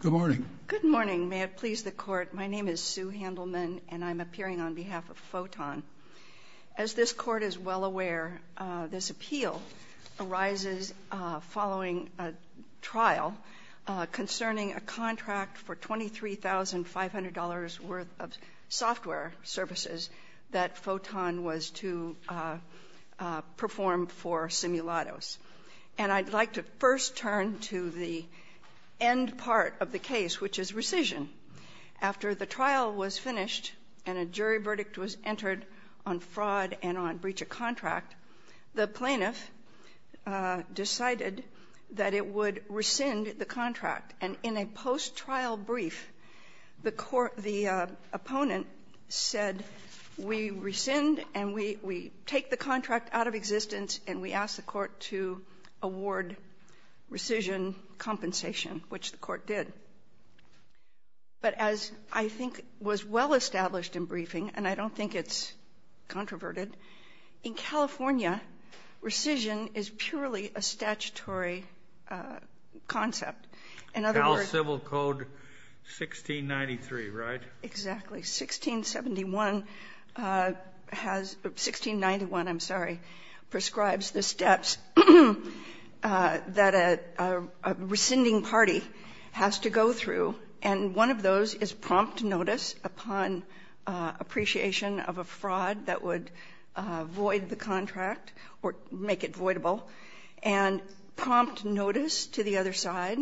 Good morning. Good morning. May it please the Court, my name is Sue Handelman and I'm appearing on behalf of Photon. As this Court is well aware, this appeal arises following a trial concerning a contract for $23,500 worth of software services that Photon was to perform for Simulados. And I'd like to first turn to the end part of the case, which is rescission. After the trial was finished and a jury verdict was entered on fraud and on breach of contract, the plaintiff decided that it would rescind the contract. And in a post-trial brief, the opponent said, we rescind and we take the contract out of existence and we ask the Court to award rescission compensation, which the Court did. But as I think was well established in briefing, and I don't think it's controverted, in California, rescission is purely a statutory concept. In other words... Cal Civil Code 1693, right? Exactly. 1671 has 1691, I'm sorry, prescribes the steps that a rescinding party has to go through. And one of those is prompt notice upon appreciation of a fraud that would void the contract or make it voidable, and prompt notice to the other side,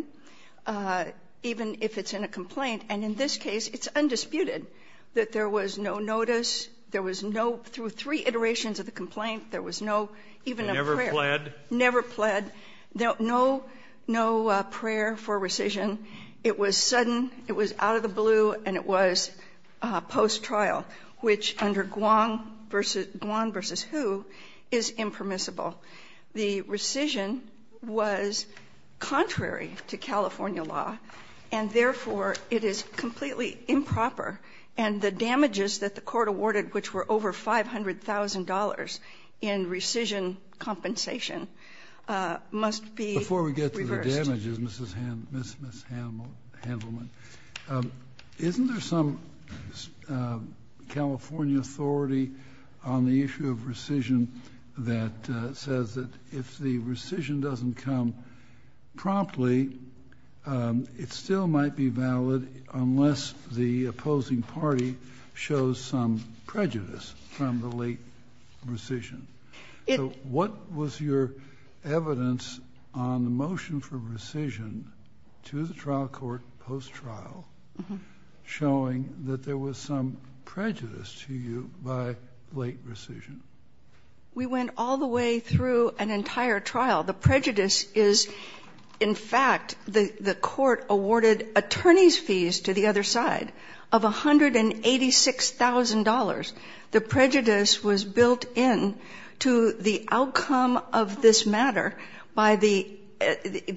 even if it's in a complaint. And in this case, it's undisputed that there was no notice, there was no, through three iterations of the complaint, there was no, even a prayer. Never pled? Never pled. No prayer for rescission. It was sudden, it was out of the blue, and it was post-trial, which under Guam versus who is impermissible. The rescission was contrary to California law, and therefore it is completely improper, and the damages that the Court awarded, which were over $500,000 in rescission compensation, must be reversed. Before we get to the damages, Ms. Handelman, isn't there some California authority on the issue of rescission that says that if the rescission doesn't come promptly, it still might be valid unless the opposing party shows some prejudice from the late rescission. So what was your evidence on the motion for rescission to the trial court post-trial showing that there was some prejudice to you by late rescission? We went all the way through an entire trial. The prejudice is, in fact, the Court awarded attorney's fees to the other side of $186,000. The prejudice was built into the outcome of this matter by the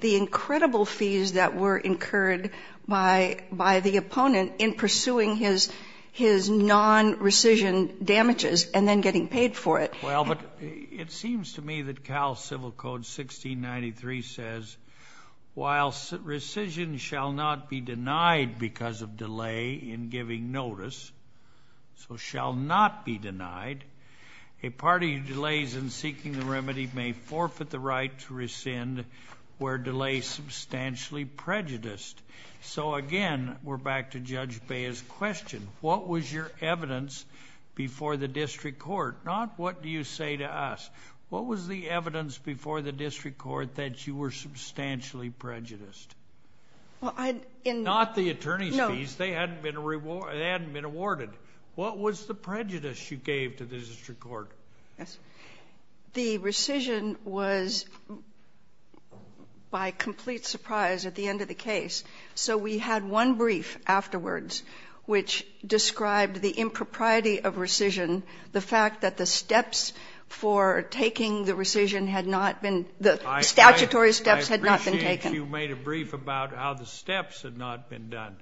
incredible fees that were incurred by the opponent in pursuing his non-rescission damages and then getting paid for it. Well, but it seems to me that Cal Civil Code 1693 says, while rescission shall not be denied because of delay in giving notice, so shall not be denied, a party who delays in seeking the remedy may forfeit the right to rescind where delay is substantially prejudiced. So again, we're back to Judge Bea's question. What was your evidence before the district court? Not what do you say to us. What was the evidence before the district court that you were substantially prejudiced? Not the attorney's fees. They hadn't been awarded. What was the prejudice you gave to the district court? The rescission was by complete surprise at the end of the case. So we had one brief afterwards which described the impropriety of rescission, the fact that the steps for taking the rescission had not been the statutory steps had not been taken. I appreciate you made a brief about how the steps had not been done.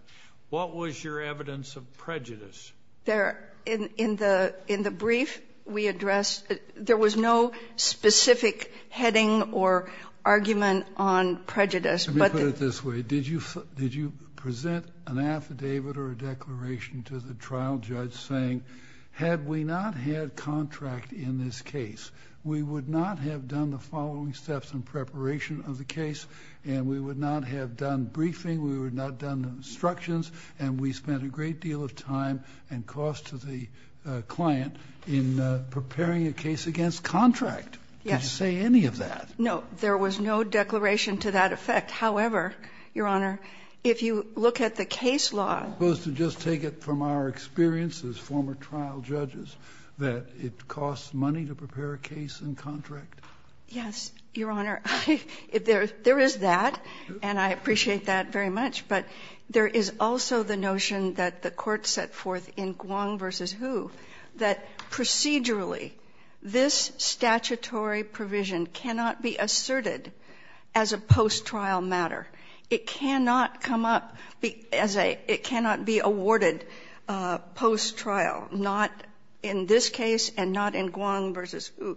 What was your evidence of prejudice? In the brief we addressed, there was no specific heading or argument on prejudice. Let me put it this way. Did you present an affidavit or a declaration to the trial judge saying, had we not had contract in this case, we would not have done the following steps in preparation of the case, and we would not have done briefing, we would not have done instructions, and we spent a great deal of time and cost to the client in preparing a case against contract? Yes. Did you say any of that? No. There was no declaration to that effect. However, Your Honor, if you look at the case law. I'm supposed to just take it from our experience as former trial judges, that it costs money to prepare a case and contract? Yes, Your Honor. There is that, and I appreciate that very much. But there is also the notion that the court set forth in Guang v. Hu that procedurally this statutory provision cannot be asserted as a post-trial matter. It cannot come up as a ‑‑ it cannot be awarded post-trial, not in this case and not in Guang v. Hu.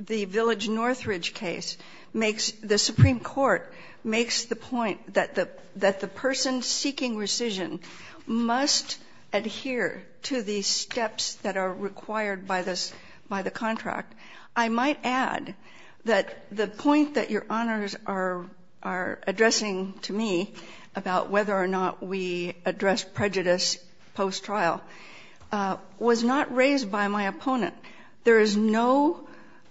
The Village Northridge case makes ‑‑ the Supreme Court makes the point that the person seeking rescission must adhere to the steps that are required by the contract. I might add that the point that Your Honors are addressing to me about whether or not we address prejudice post-trial was not raised by my opponent. There is no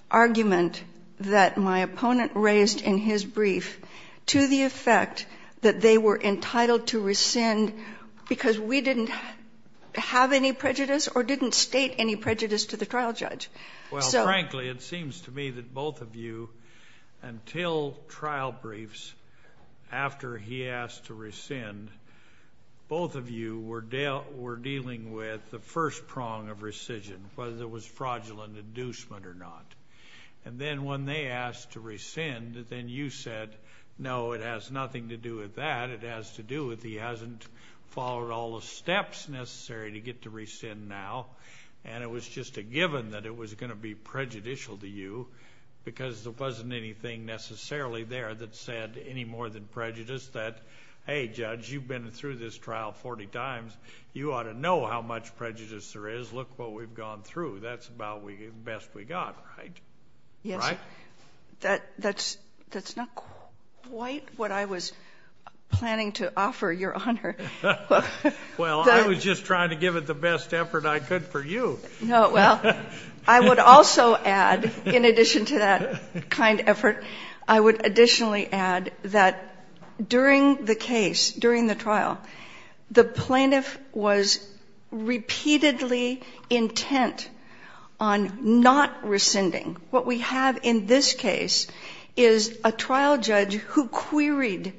argument that my opponent raised in his brief to the effect that they were entitled to rescind because we didn't have any prejudice or didn't state any prejudice to the trial judge. Well, frankly, it seems to me that both of you, until trial briefs, after he asked to rescind, both of you were dealing with the first prong of rescission, whether it was fraudulent inducement or not. And then when they asked to rescind, then you said, no, it has nothing to do with that. It has to do with he hasn't followed all the steps necessary to get to rescind now, and it was just a given that it was going to be prejudicial to you because there wasn't anything necessarily there that said any more than prejudice that, hey, judge, you've been through this trial 40 times. You ought to know how much prejudice there is. Look what we've gone through. That's about the best we got, right? Yes. Right? That's not quite what I was planning to offer, Your Honor. Well, I was just trying to give it the best effort I could for you. No, well, I would also add, in addition to that kind effort, I would additionally add that during the case, during the trial, the plaintiff was repeatedly intent on not rescinding. What we have in this case is a trial judge who queried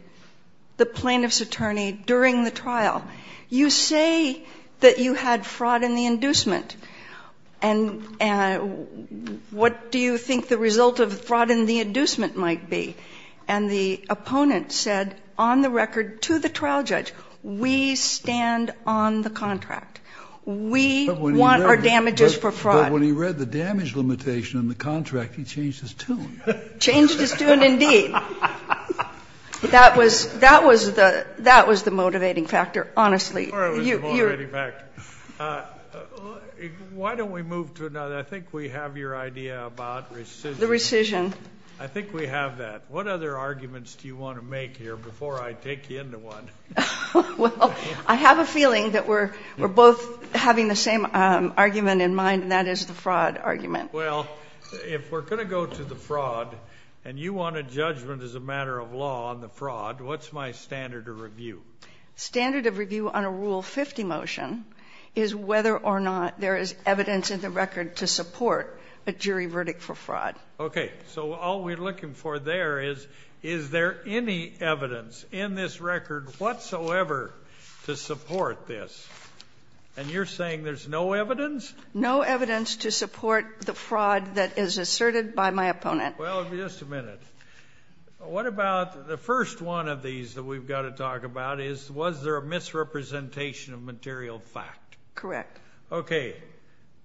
the plaintiff's attorney during the trial. You say that you had fraud in the inducement. And what do you think the result of fraud in the inducement might be? And the opponent said on the record to the trial judge, we stand on the contract. We want our damages for fraud. But when he read the damage limitation in the contract, he changed his tune. Changed his tune indeed. That was the motivating factor, honestly. Why don't we move to another? I think we have your idea about rescission. The rescission. I think we have that. What other arguments do you want to make here before I take you into one? Well, I have a feeling that we're both having the same argument in mind, and that is the fraud argument. Well, if we're going to go to the fraud and you want a judgment as a matter of law on the fraud, what's my standard of review? Standard of review on a Rule 50 motion is whether or not there is evidence in the record to support a jury verdict for fraud. Okay. So all we're looking for there is, is there any evidence in this record whatsoever to support this? And you're saying there's no evidence? No evidence to support the fraud that is asserted by my opponent. Well, just a minute. What about the first one of these that we've got to talk about is, was there a misrepresentation of material fact? Correct. Okay.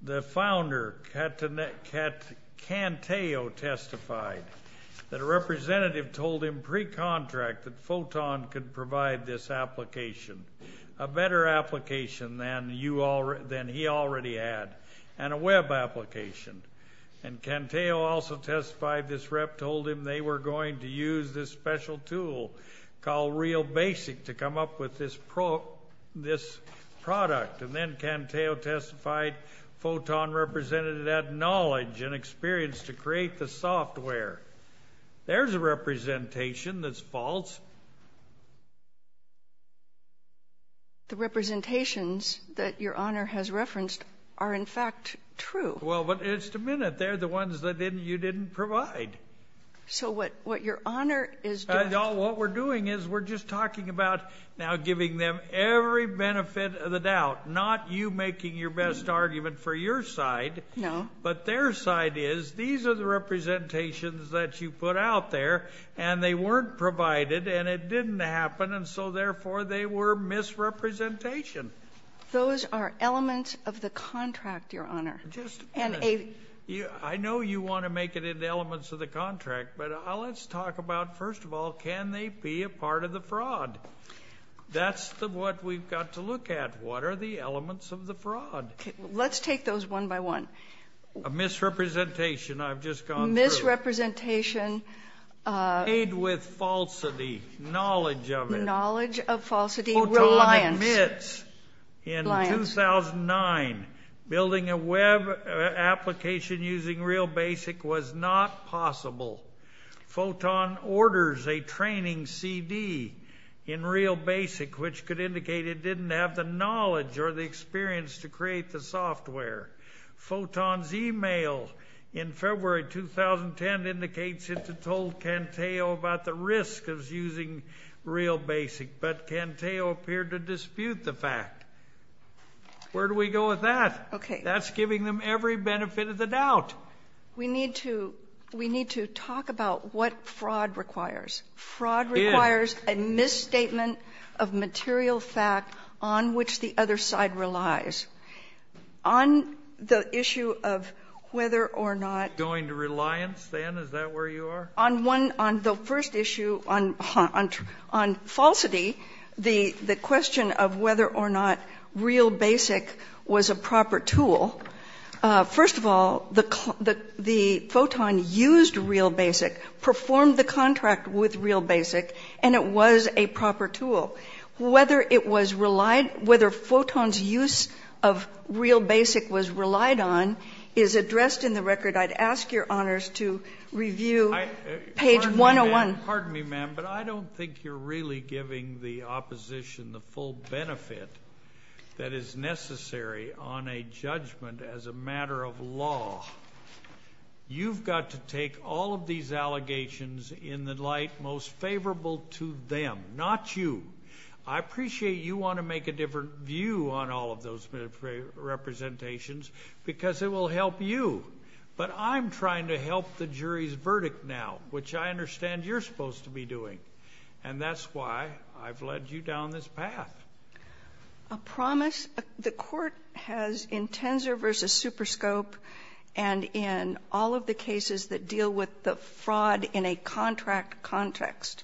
The founder, Canteo, testified that a representative told him pre-contract that Photon could provide this application, a better application than he already had, and a web application. And Canteo also testified this rep told him they were going to use this special tool called Real Basic to come up with this product. And then Canteo testified Photon represented it had knowledge and experience to create the software. There's a representation that's false. The representations that Your Honor has referenced are, in fact, true. Well, but just a minute. They're the ones that you didn't provide. So what Your Honor is doing... Now giving them every benefit of the doubt. Not you making your best argument for your side. No. But their side is, these are the representations that you put out there, and they weren't provided, and it didn't happen. And so, therefore, they were misrepresentation. Those are elements of the contract, Your Honor. Just a minute. I know you want to make it into elements of the contract, but let's talk about, first of all, can they be a part of the fraud? That's what we've got to look at. What are the elements of the fraud? Let's take those one by one. A misrepresentation I've just gone through. Misrepresentation... Paid with falsity, knowledge of it. Knowledge of falsity, reliance. Photon admits in 2009 building a web application using Real Basic was not possible. Photon orders a training CD in Real Basic, which could indicate it didn't have the knowledge or the experience to create the software. Photon's email in February 2010 indicates it told Canteo about the risk of using Real Basic, but Canteo appeared to dispute the fact. Where do we go with that? Okay. That's giving them every benefit of the doubt. We need to talk about what fraud requires. Fraud requires a misstatement of material fact on which the other side relies. On the issue of whether or not... Going to reliance then? Is that where you are? On the first issue, on falsity, the question of whether or not Real Basic was a proper tool. First of all, the photon used Real Basic, performed the contract with Real Basic, and it was a proper tool. Whether it was relied... Whether photon's use of Real Basic was relied on is addressed in the record. I'd ask your honors to review page 101. Pardon me, ma'am, but I don't think you're really giving the opposition the full benefit that is necessary on a judgment as a matter of law. You've got to take all of these allegations in the light most favorable to them, not you. I appreciate you want to make a different view on all of those representations because it will help you. But I'm trying to help the jury's verdict now, which I understand you're supposed to be doing. And that's why I've led you down this path. A promise... The court has, in Tenzer v. Superscope and in all of the cases that deal with the fraud in a contract context,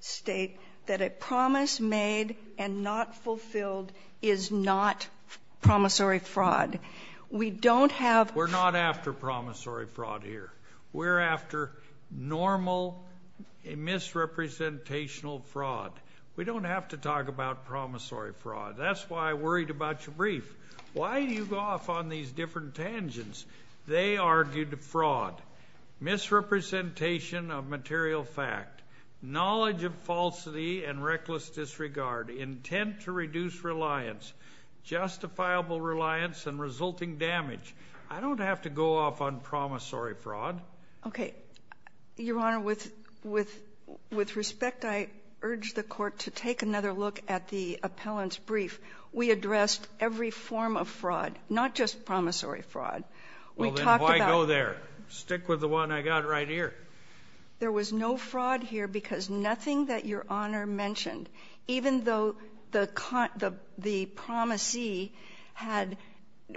state that a promise made and not fulfilled is not promissory fraud. We don't have... We're not after promissory fraud here. We're after normal misrepresentational fraud. We don't have to talk about promissory fraud. That's why I worried about your brief. Why do you go off on these different tangents? They argued fraud, misrepresentation of material fact, knowledge of falsity and reckless disregard, intent to reduce reliance, justifiable reliance and resulting damage. I don't have to go off on promissory fraud. Okay. Your Honor, with respect, I urge the court to take another look at the appellant's brief. We addressed every form of fraud, not just promissory fraud. Well, then why go there? Stick with the one I got right here. There was no fraud here because nothing that Your Honor mentioned, even though the promisee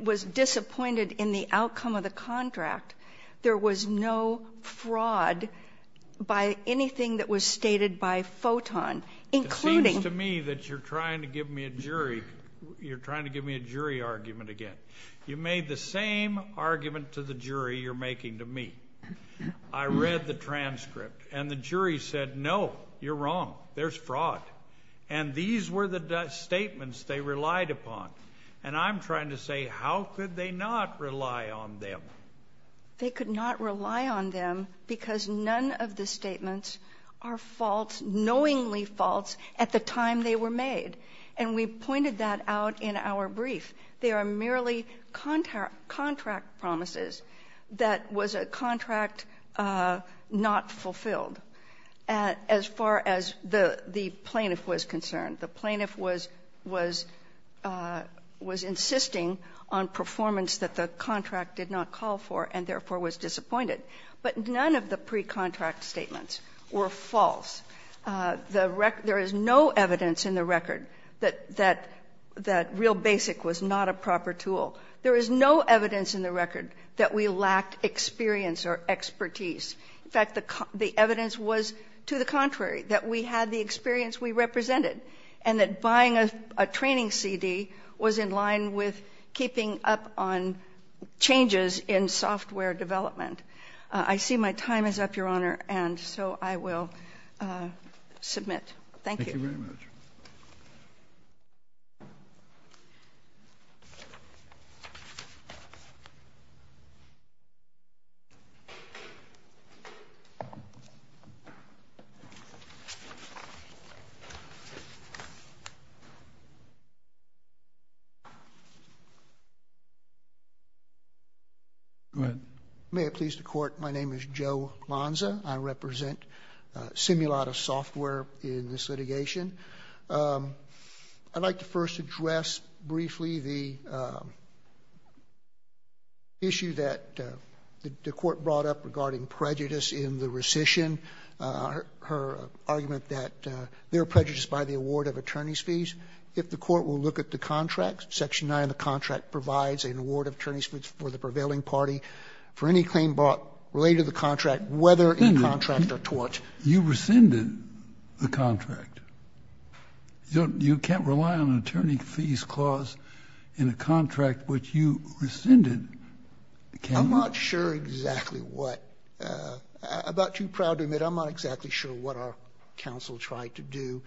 was disappointed in the outcome of the contract, there was no fraud by anything that was stated by Photon, including... It seems to me that you're trying to give me a jury argument again. You made the same argument to the jury you're making to me. I read the transcript, and the jury said, no, you're wrong. There's fraud. And these were the statements they relied upon. And I'm trying to say, how could they not rely on them? They could not rely on them because none of the statements are false, knowingly false, at the time they were made. And we pointed that out in our brief. They are merely contract promises that was a contract not fulfilled. As far as the plaintiff was concerned, the plaintiff was insisting on performance that the contract did not call for and therefore was disappointed. But none of the pre-contract statements were false. There is no evidence in the record that real BASIC was not a proper tool. There is no evidence in the record that we lacked experience or expertise. In fact, the evidence was to the contrary, that we had the experience we represented and that buying a training CD was in line with keeping up on changes in software development. I see my time is up, Your Honor, and so I will submit. Thank you. Thank you very much. Go ahead. May it please the Court, my name is Joe Lonza. I represent Simulata Software in this litigation. I would like to first address briefly the issue that the Court brought up regarding prejudice in the rescission, her argument that there are prejudices by the award of attorney's fees. If the Court will look at the contract, section 9 of the contract provides an award of attorney's fees for the prevailing party. For any claim brought related to the contract, whether in contract or tort. You rescinded the contract. You can't rely on an attorney's fees clause in a contract which you rescinded. I'm not sure exactly what. I'm about too proud to admit I'm not exactly sure what our counsel tried to do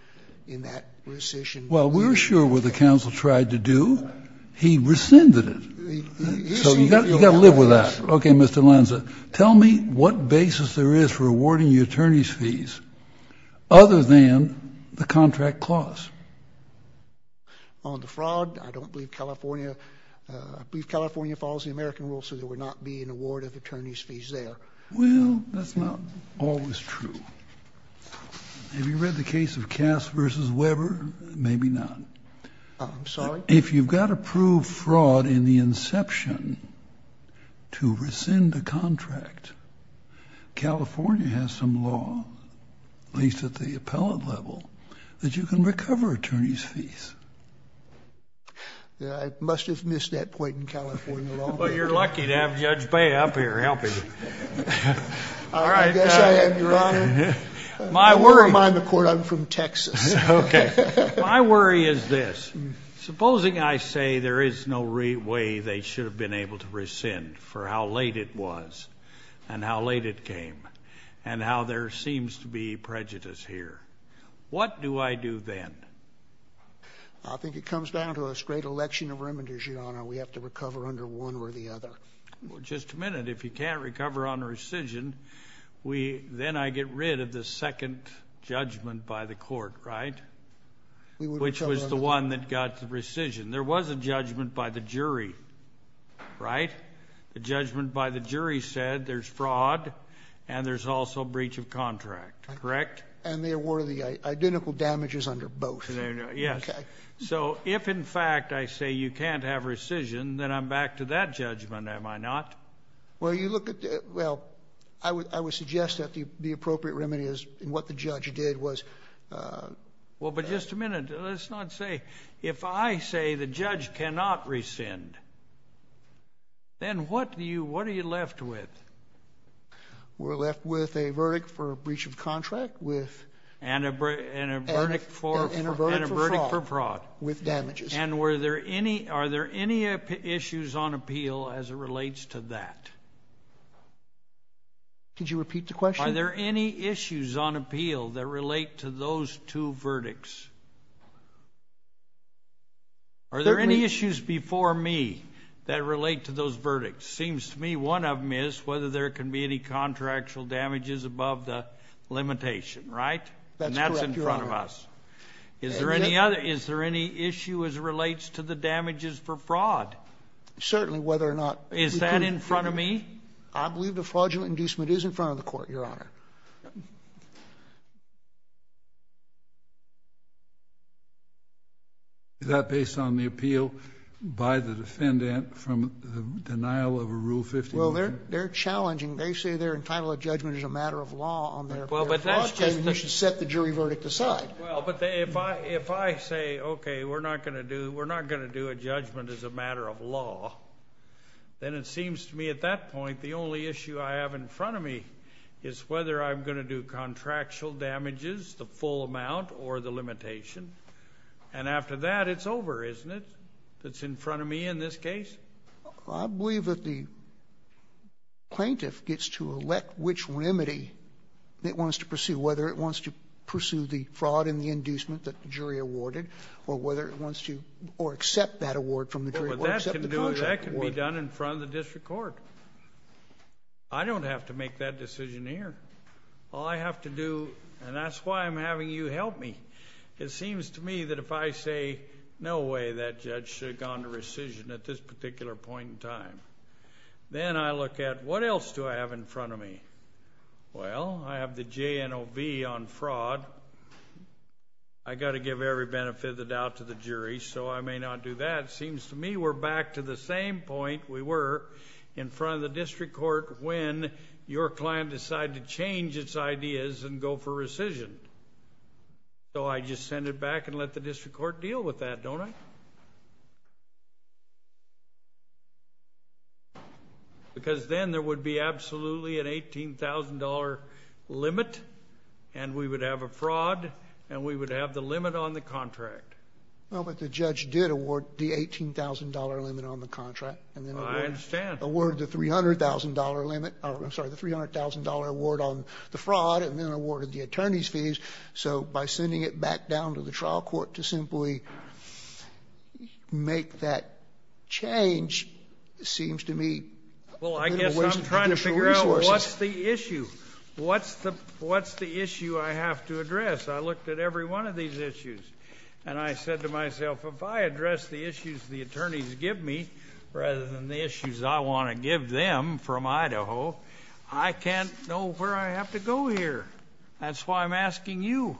in that rescission. Well, we're sure what the counsel tried to do. He rescinded it. So you've got to live with that. Okay, Mr. Lonza, tell me what basis there is for awarding you attorney's fees other than the contract clause. On the fraud, I don't believe California, I believe California follows the American rule so there would not be an award of attorney's fees there. Well, that's not always true. Have you read the case of Cass v. Weber? Maybe not. I'm sorry? Well, if you've got to prove fraud in the inception to rescind a contract, California has some law, at least at the appellate level, that you can recover attorney's fees. I must have missed that point in California law. Well, you're lucky to have Judge Bay up here helping you. I guess I am, Your Honor. I'm from Texas. Okay. My worry is this. Supposing I say there is no way they should have been able to rescind for how late it was and how late it came and how there seems to be prejudice here. What do I do then? I think it comes down to a straight election of remanders, Your Honor. We have to recover under one or the other. Well, just a minute. If you can't recover on rescission, then I get rid of the second judgment by the jury, which was the one that got the rescission. There was a judgment by the jury, right? The judgment by the jury said there's fraud and there's also breach of contract, correct? And there were the identical damages under both. Yes. Okay. So if, in fact, I say you can't have rescission, then I'm back to that judgment, am I not? Well, you look at the... Well, I would suggest that the appropriate remedy is what the judge did was... Well, but just a minute. Let's not say... If I say the judge cannot rescind, then what are you left with? We're left with a verdict for breach of contract with... And a verdict for fraud. With damages. And are there any issues on appeal as it relates to that? Could you repeat the question? Are there any issues on appeal that relate to those two verdicts? Are there any issues before me that relate to those verdicts? It seems to me one of them is whether there can be any contractual damages above the limitation, right? That's correct, Your Honor. And that's in front of us. Is there any issue as it relates to the damages for fraud? Certainly, whether or not... Is that in front of me? I believe the fraudulent inducement is in front of the court, Your Honor. Is that based on the appeal by the defendant from the denial of a Rule 15? Well, they're challenging. They say they're entitled to judgment as a matter of law on their fraud. Well, but that's just the... You should set the jury verdict aside. Well, but if I say, okay, we're not going to do a judgment as a matter of law, then it seems to me at that point the only issue I have in front of me is whether I'm going to do contractual damages, the full amount, or the limitation. And after that, it's over, isn't it, if it's in front of me in this case? I believe that the plaintiff gets to elect which remedy it wants to pursue, whether it wants to pursue the fraud in the inducement that the jury awarded or whether it wants to... or accept that award from the jury... That can be done in front of the district court. I don't have to make that decision here. All I have to do, and that's why I'm having you help me, it seems to me that if I say no way that judge should have gone to rescission at this particular point in time, then I look at what else do I have in front of me. Well, I have the JNOV on fraud. I've got to give every benefit of the doubt to the jury, so I may not do that. It seems to me we're back to the same point we were in front of the district court when your client decided to change its ideas and go for rescission. So I just send it back and let the district court deal with that, don't I? Because then there would be absolutely an $18,000 limit, and we would have a fraud, and we would have the limit on the contract. Well, but the judge did award the $18,000 limit on the contract...... and then awarded the $300,000 limit. I'm sorry, the $300,000 award on the fraud, and then awarded the attorney's fees. So by sending it back down to the trial court to simply make that change seems to me... Well, I guess I'm trying to figure out what's the issue. What's the issue I have to address? I looked at every one of these issues, and I said to myself, if I address the issues the attorneys give me rather than the issues I want to give them from Idaho, I can't know where I have to go here. That's why I'm asking you.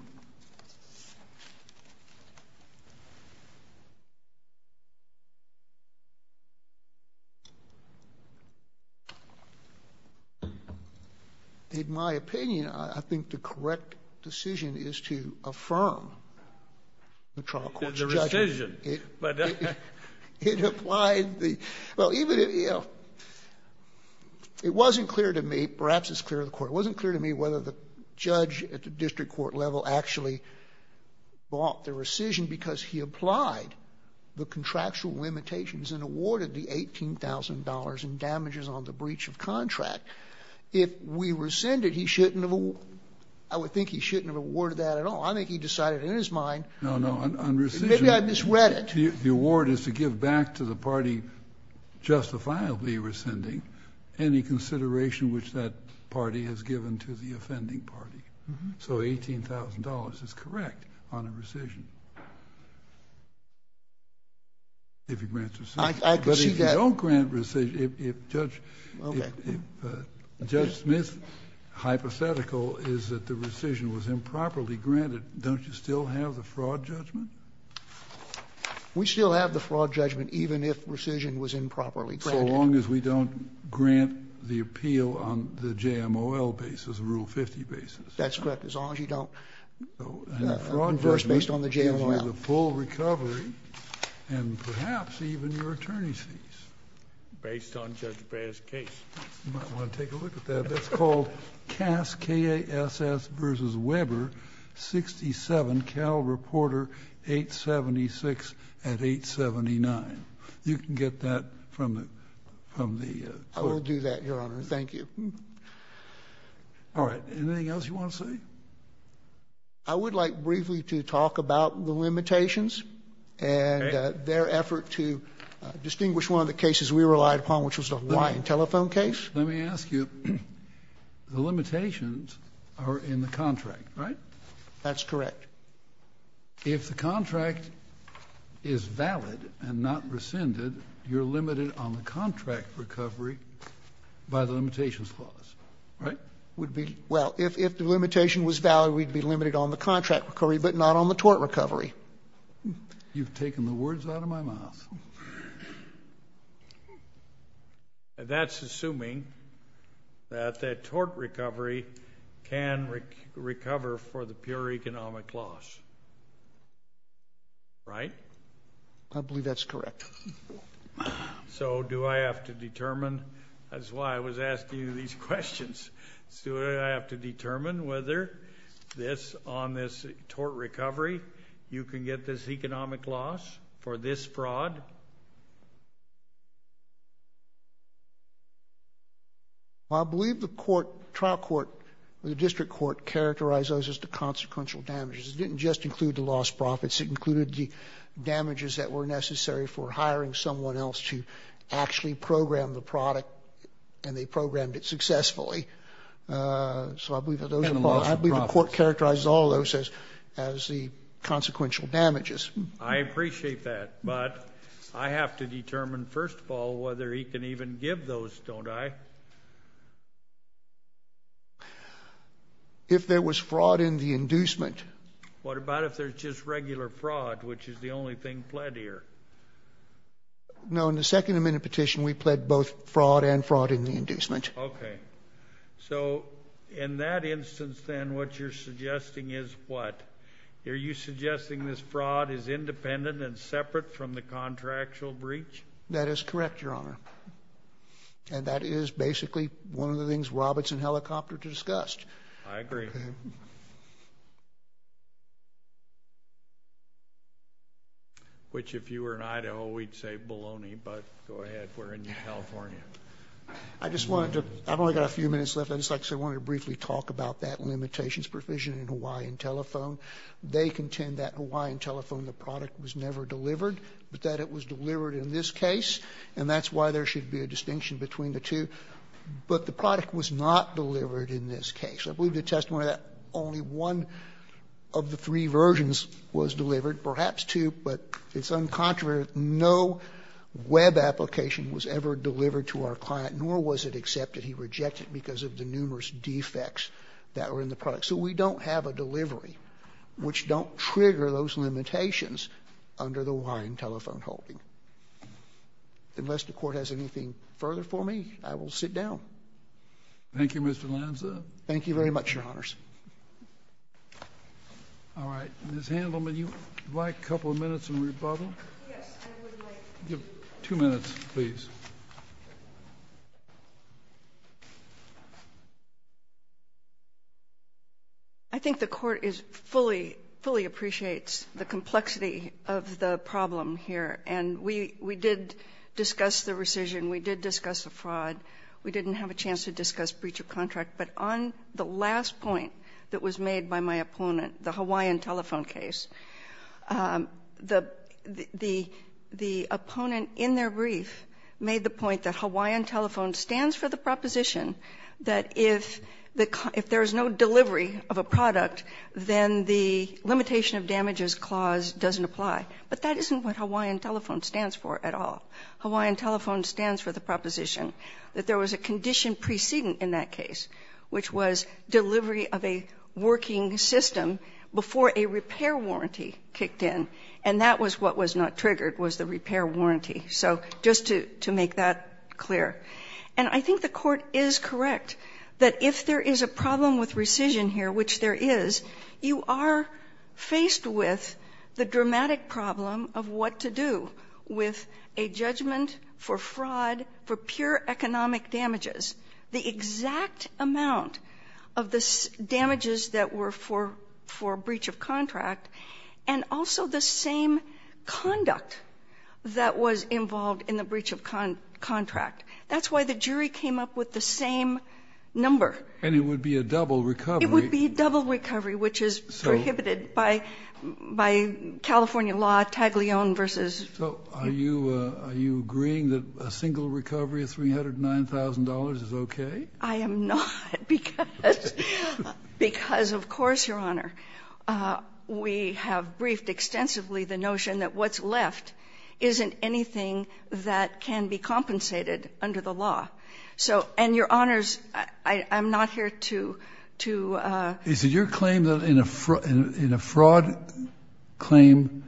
In my opinion, I think the correct decision is to affirm the trial court's judgment. The decision, but... It applied the — well, even if, you know, it wasn't clear to me, perhaps it's clear to the Court, but it wasn't clear to me whether the judge at the district court level actually bought the rescission because he applied the contractual limitations and awarded the $18,000 in damages on the breach of contract. If we rescinded, he shouldn't have — I would think he shouldn't have awarded that at all. I think he decided in his mind... No, no, on rescission... Maybe I misread it. The award is to give back to the party justifiably rescinding any consideration which that party has given to the offending party. So $18,000 is correct on a rescission, if he grants rescission. I can see that. But if you don't grant rescission, if Judge Smith's hypothetical is that the rescission was improperly granted, don't you still have the fraud judgment? We still have the fraud judgment, even if rescission was improperly granted. So long as we don't grant the appeal on the JMOL basis, Rule 50 basis. That's correct, as long as you don't — Fraud verse based on the JMOL. And the full recovery, and perhaps even your attorney's fees. Based on Judge Breyer's case. You might want to take a look at that. It's called Cass, K-A-S-S versus Weber, 67, Cal Reporter, 876 at 879. You can get that from the court. I will do that, Your Honor. Thank you. All right. Anything else you want to say? I would like briefly to talk about the limitations and their effort to distinguish one of the cases we relied upon, which was the Hawaiian telephone case. Let me ask you, the limitations are in the contract, right? That's correct. If the contract is valid and not rescinded, you're limited on the contract recovery by the limitations clause, right? Well, if the limitation was valid, we'd be limited on the contract recovery, but not on the tort recovery. You've taken the words out of my mouth. That's assuming that the tort recovery can recover for the pure economic loss, right? I believe that's correct. So do I have to determine? That's why I was asking you these questions. Do I have to determine whether on this tort recovery you can get this economic loss for this fraud? Well, I believe the trial court, the district court, characterized those as the consequential damages. It didn't just include the lost profits. It included the damages that were necessary for hiring someone else to actually program the product, and they programmed it successfully. So I believe the court characterized all those as the consequential damages. I appreciate that, but I have to determine, first of all, whether he can even give those, don't I? If there was fraud in the inducement. What about if there's just regular fraud, which is the only thing pled here? No, in the second amendment petition, we pled both fraud and fraud in the inducement. Okay. So in that instance, then, what you're suggesting is what? Are you suggesting this fraud is independent and separate from the contractual breach? That is correct, Your Honor. And that is basically one of the things Roberts and Helicopter discussed. I agree. Okay. Which, if you were in Idaho, we'd say baloney, but go ahead. We're in New California. I just wanted to, I've only got a few minutes left. I just wanted to briefly talk about that limitations provision in Hawaiian Telephone. They contend that in Hawaiian Telephone, the product was never delivered, but that it was delivered in this case, and that's why there should be a distinction between the two. But the product was not delivered in this case. I believe the testimony of that, only one of the three versions was delivered, perhaps two, but it's uncontroversial. No web application was ever delivered to our client, nor was it accepted. He rejected it because of the numerous defects that were in the product. So we don't have a delivery which don't trigger those limitations under the Hawaiian Telephone holding. Unless the Court has anything further for me, I will sit down. Thank you, Mr. Lanza. Thank you very much, Your Honors. All right. Ms. Handelman, would you like a couple of minutes in rebuttal? Yes, I would like to. Two minutes, please. I think the Court fully appreciates the complexity of the problem here. And we did discuss the rescission. We did discuss the fraud. We didn't have a chance to discuss breach of contract. But on the last point that was made by my opponent, the Hawaiian Telephone case, the opponent in their brief made the point that Hawaiian Telephone stands for the proposition that if there is no delivery of a product, then the limitation of damages clause doesn't apply. But that isn't what Hawaiian Telephone stands for at all. Hawaiian Telephone stands for the proposition that there was a condition preceding in that case, which was delivery of a working system before a repair warranty kicked in. And that was what was not triggered, was the repair warranty. So just to make that clear. And I think the Court is correct that if there is a problem with rescission here, which there is, you are faced with the dramatic problem of what to do with a judgment for fraud, for pure economic damages. The exact amount of the damages that were for breach of contract, and also the same conduct that was involved in the breach of contract. That's why the jury came up with the same number. And it would be a double recovery. It would be a double recovery, which is prohibited by California law, Taglione v.---- So are you agreeing that a single recovery of $309,000 is okay? I am not. Because of course, Your Honor, we have briefed extensively the notion that what's left isn't anything that can be compensated under the law. So, and Your Honors, I'm not here to, to---- Is it your claim that in a fraud claim,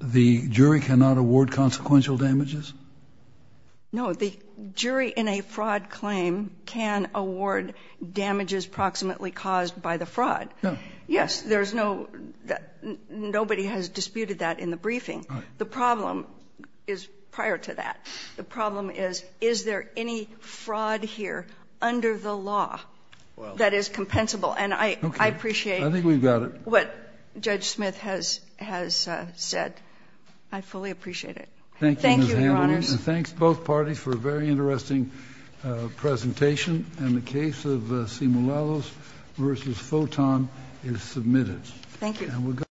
the jury cannot award consequential damages? No. The jury in a fraud claim can award damages approximately caused by the fraud. No. Yes. There's no, nobody has disputed that in the briefing. Right. The problem is prior to that. The problem is, is there any fraud here under the law that is compensable? And I, I appreciate---- Okay. I think we've got it. What Judge Smith has, has said. I fully appreciate it. Thank you, Ms. Handley. Thank you, Your Honors. And thanks, both parties, for a very interesting presentation. And the case of Simulalos v. Photon is submitted. Thank you.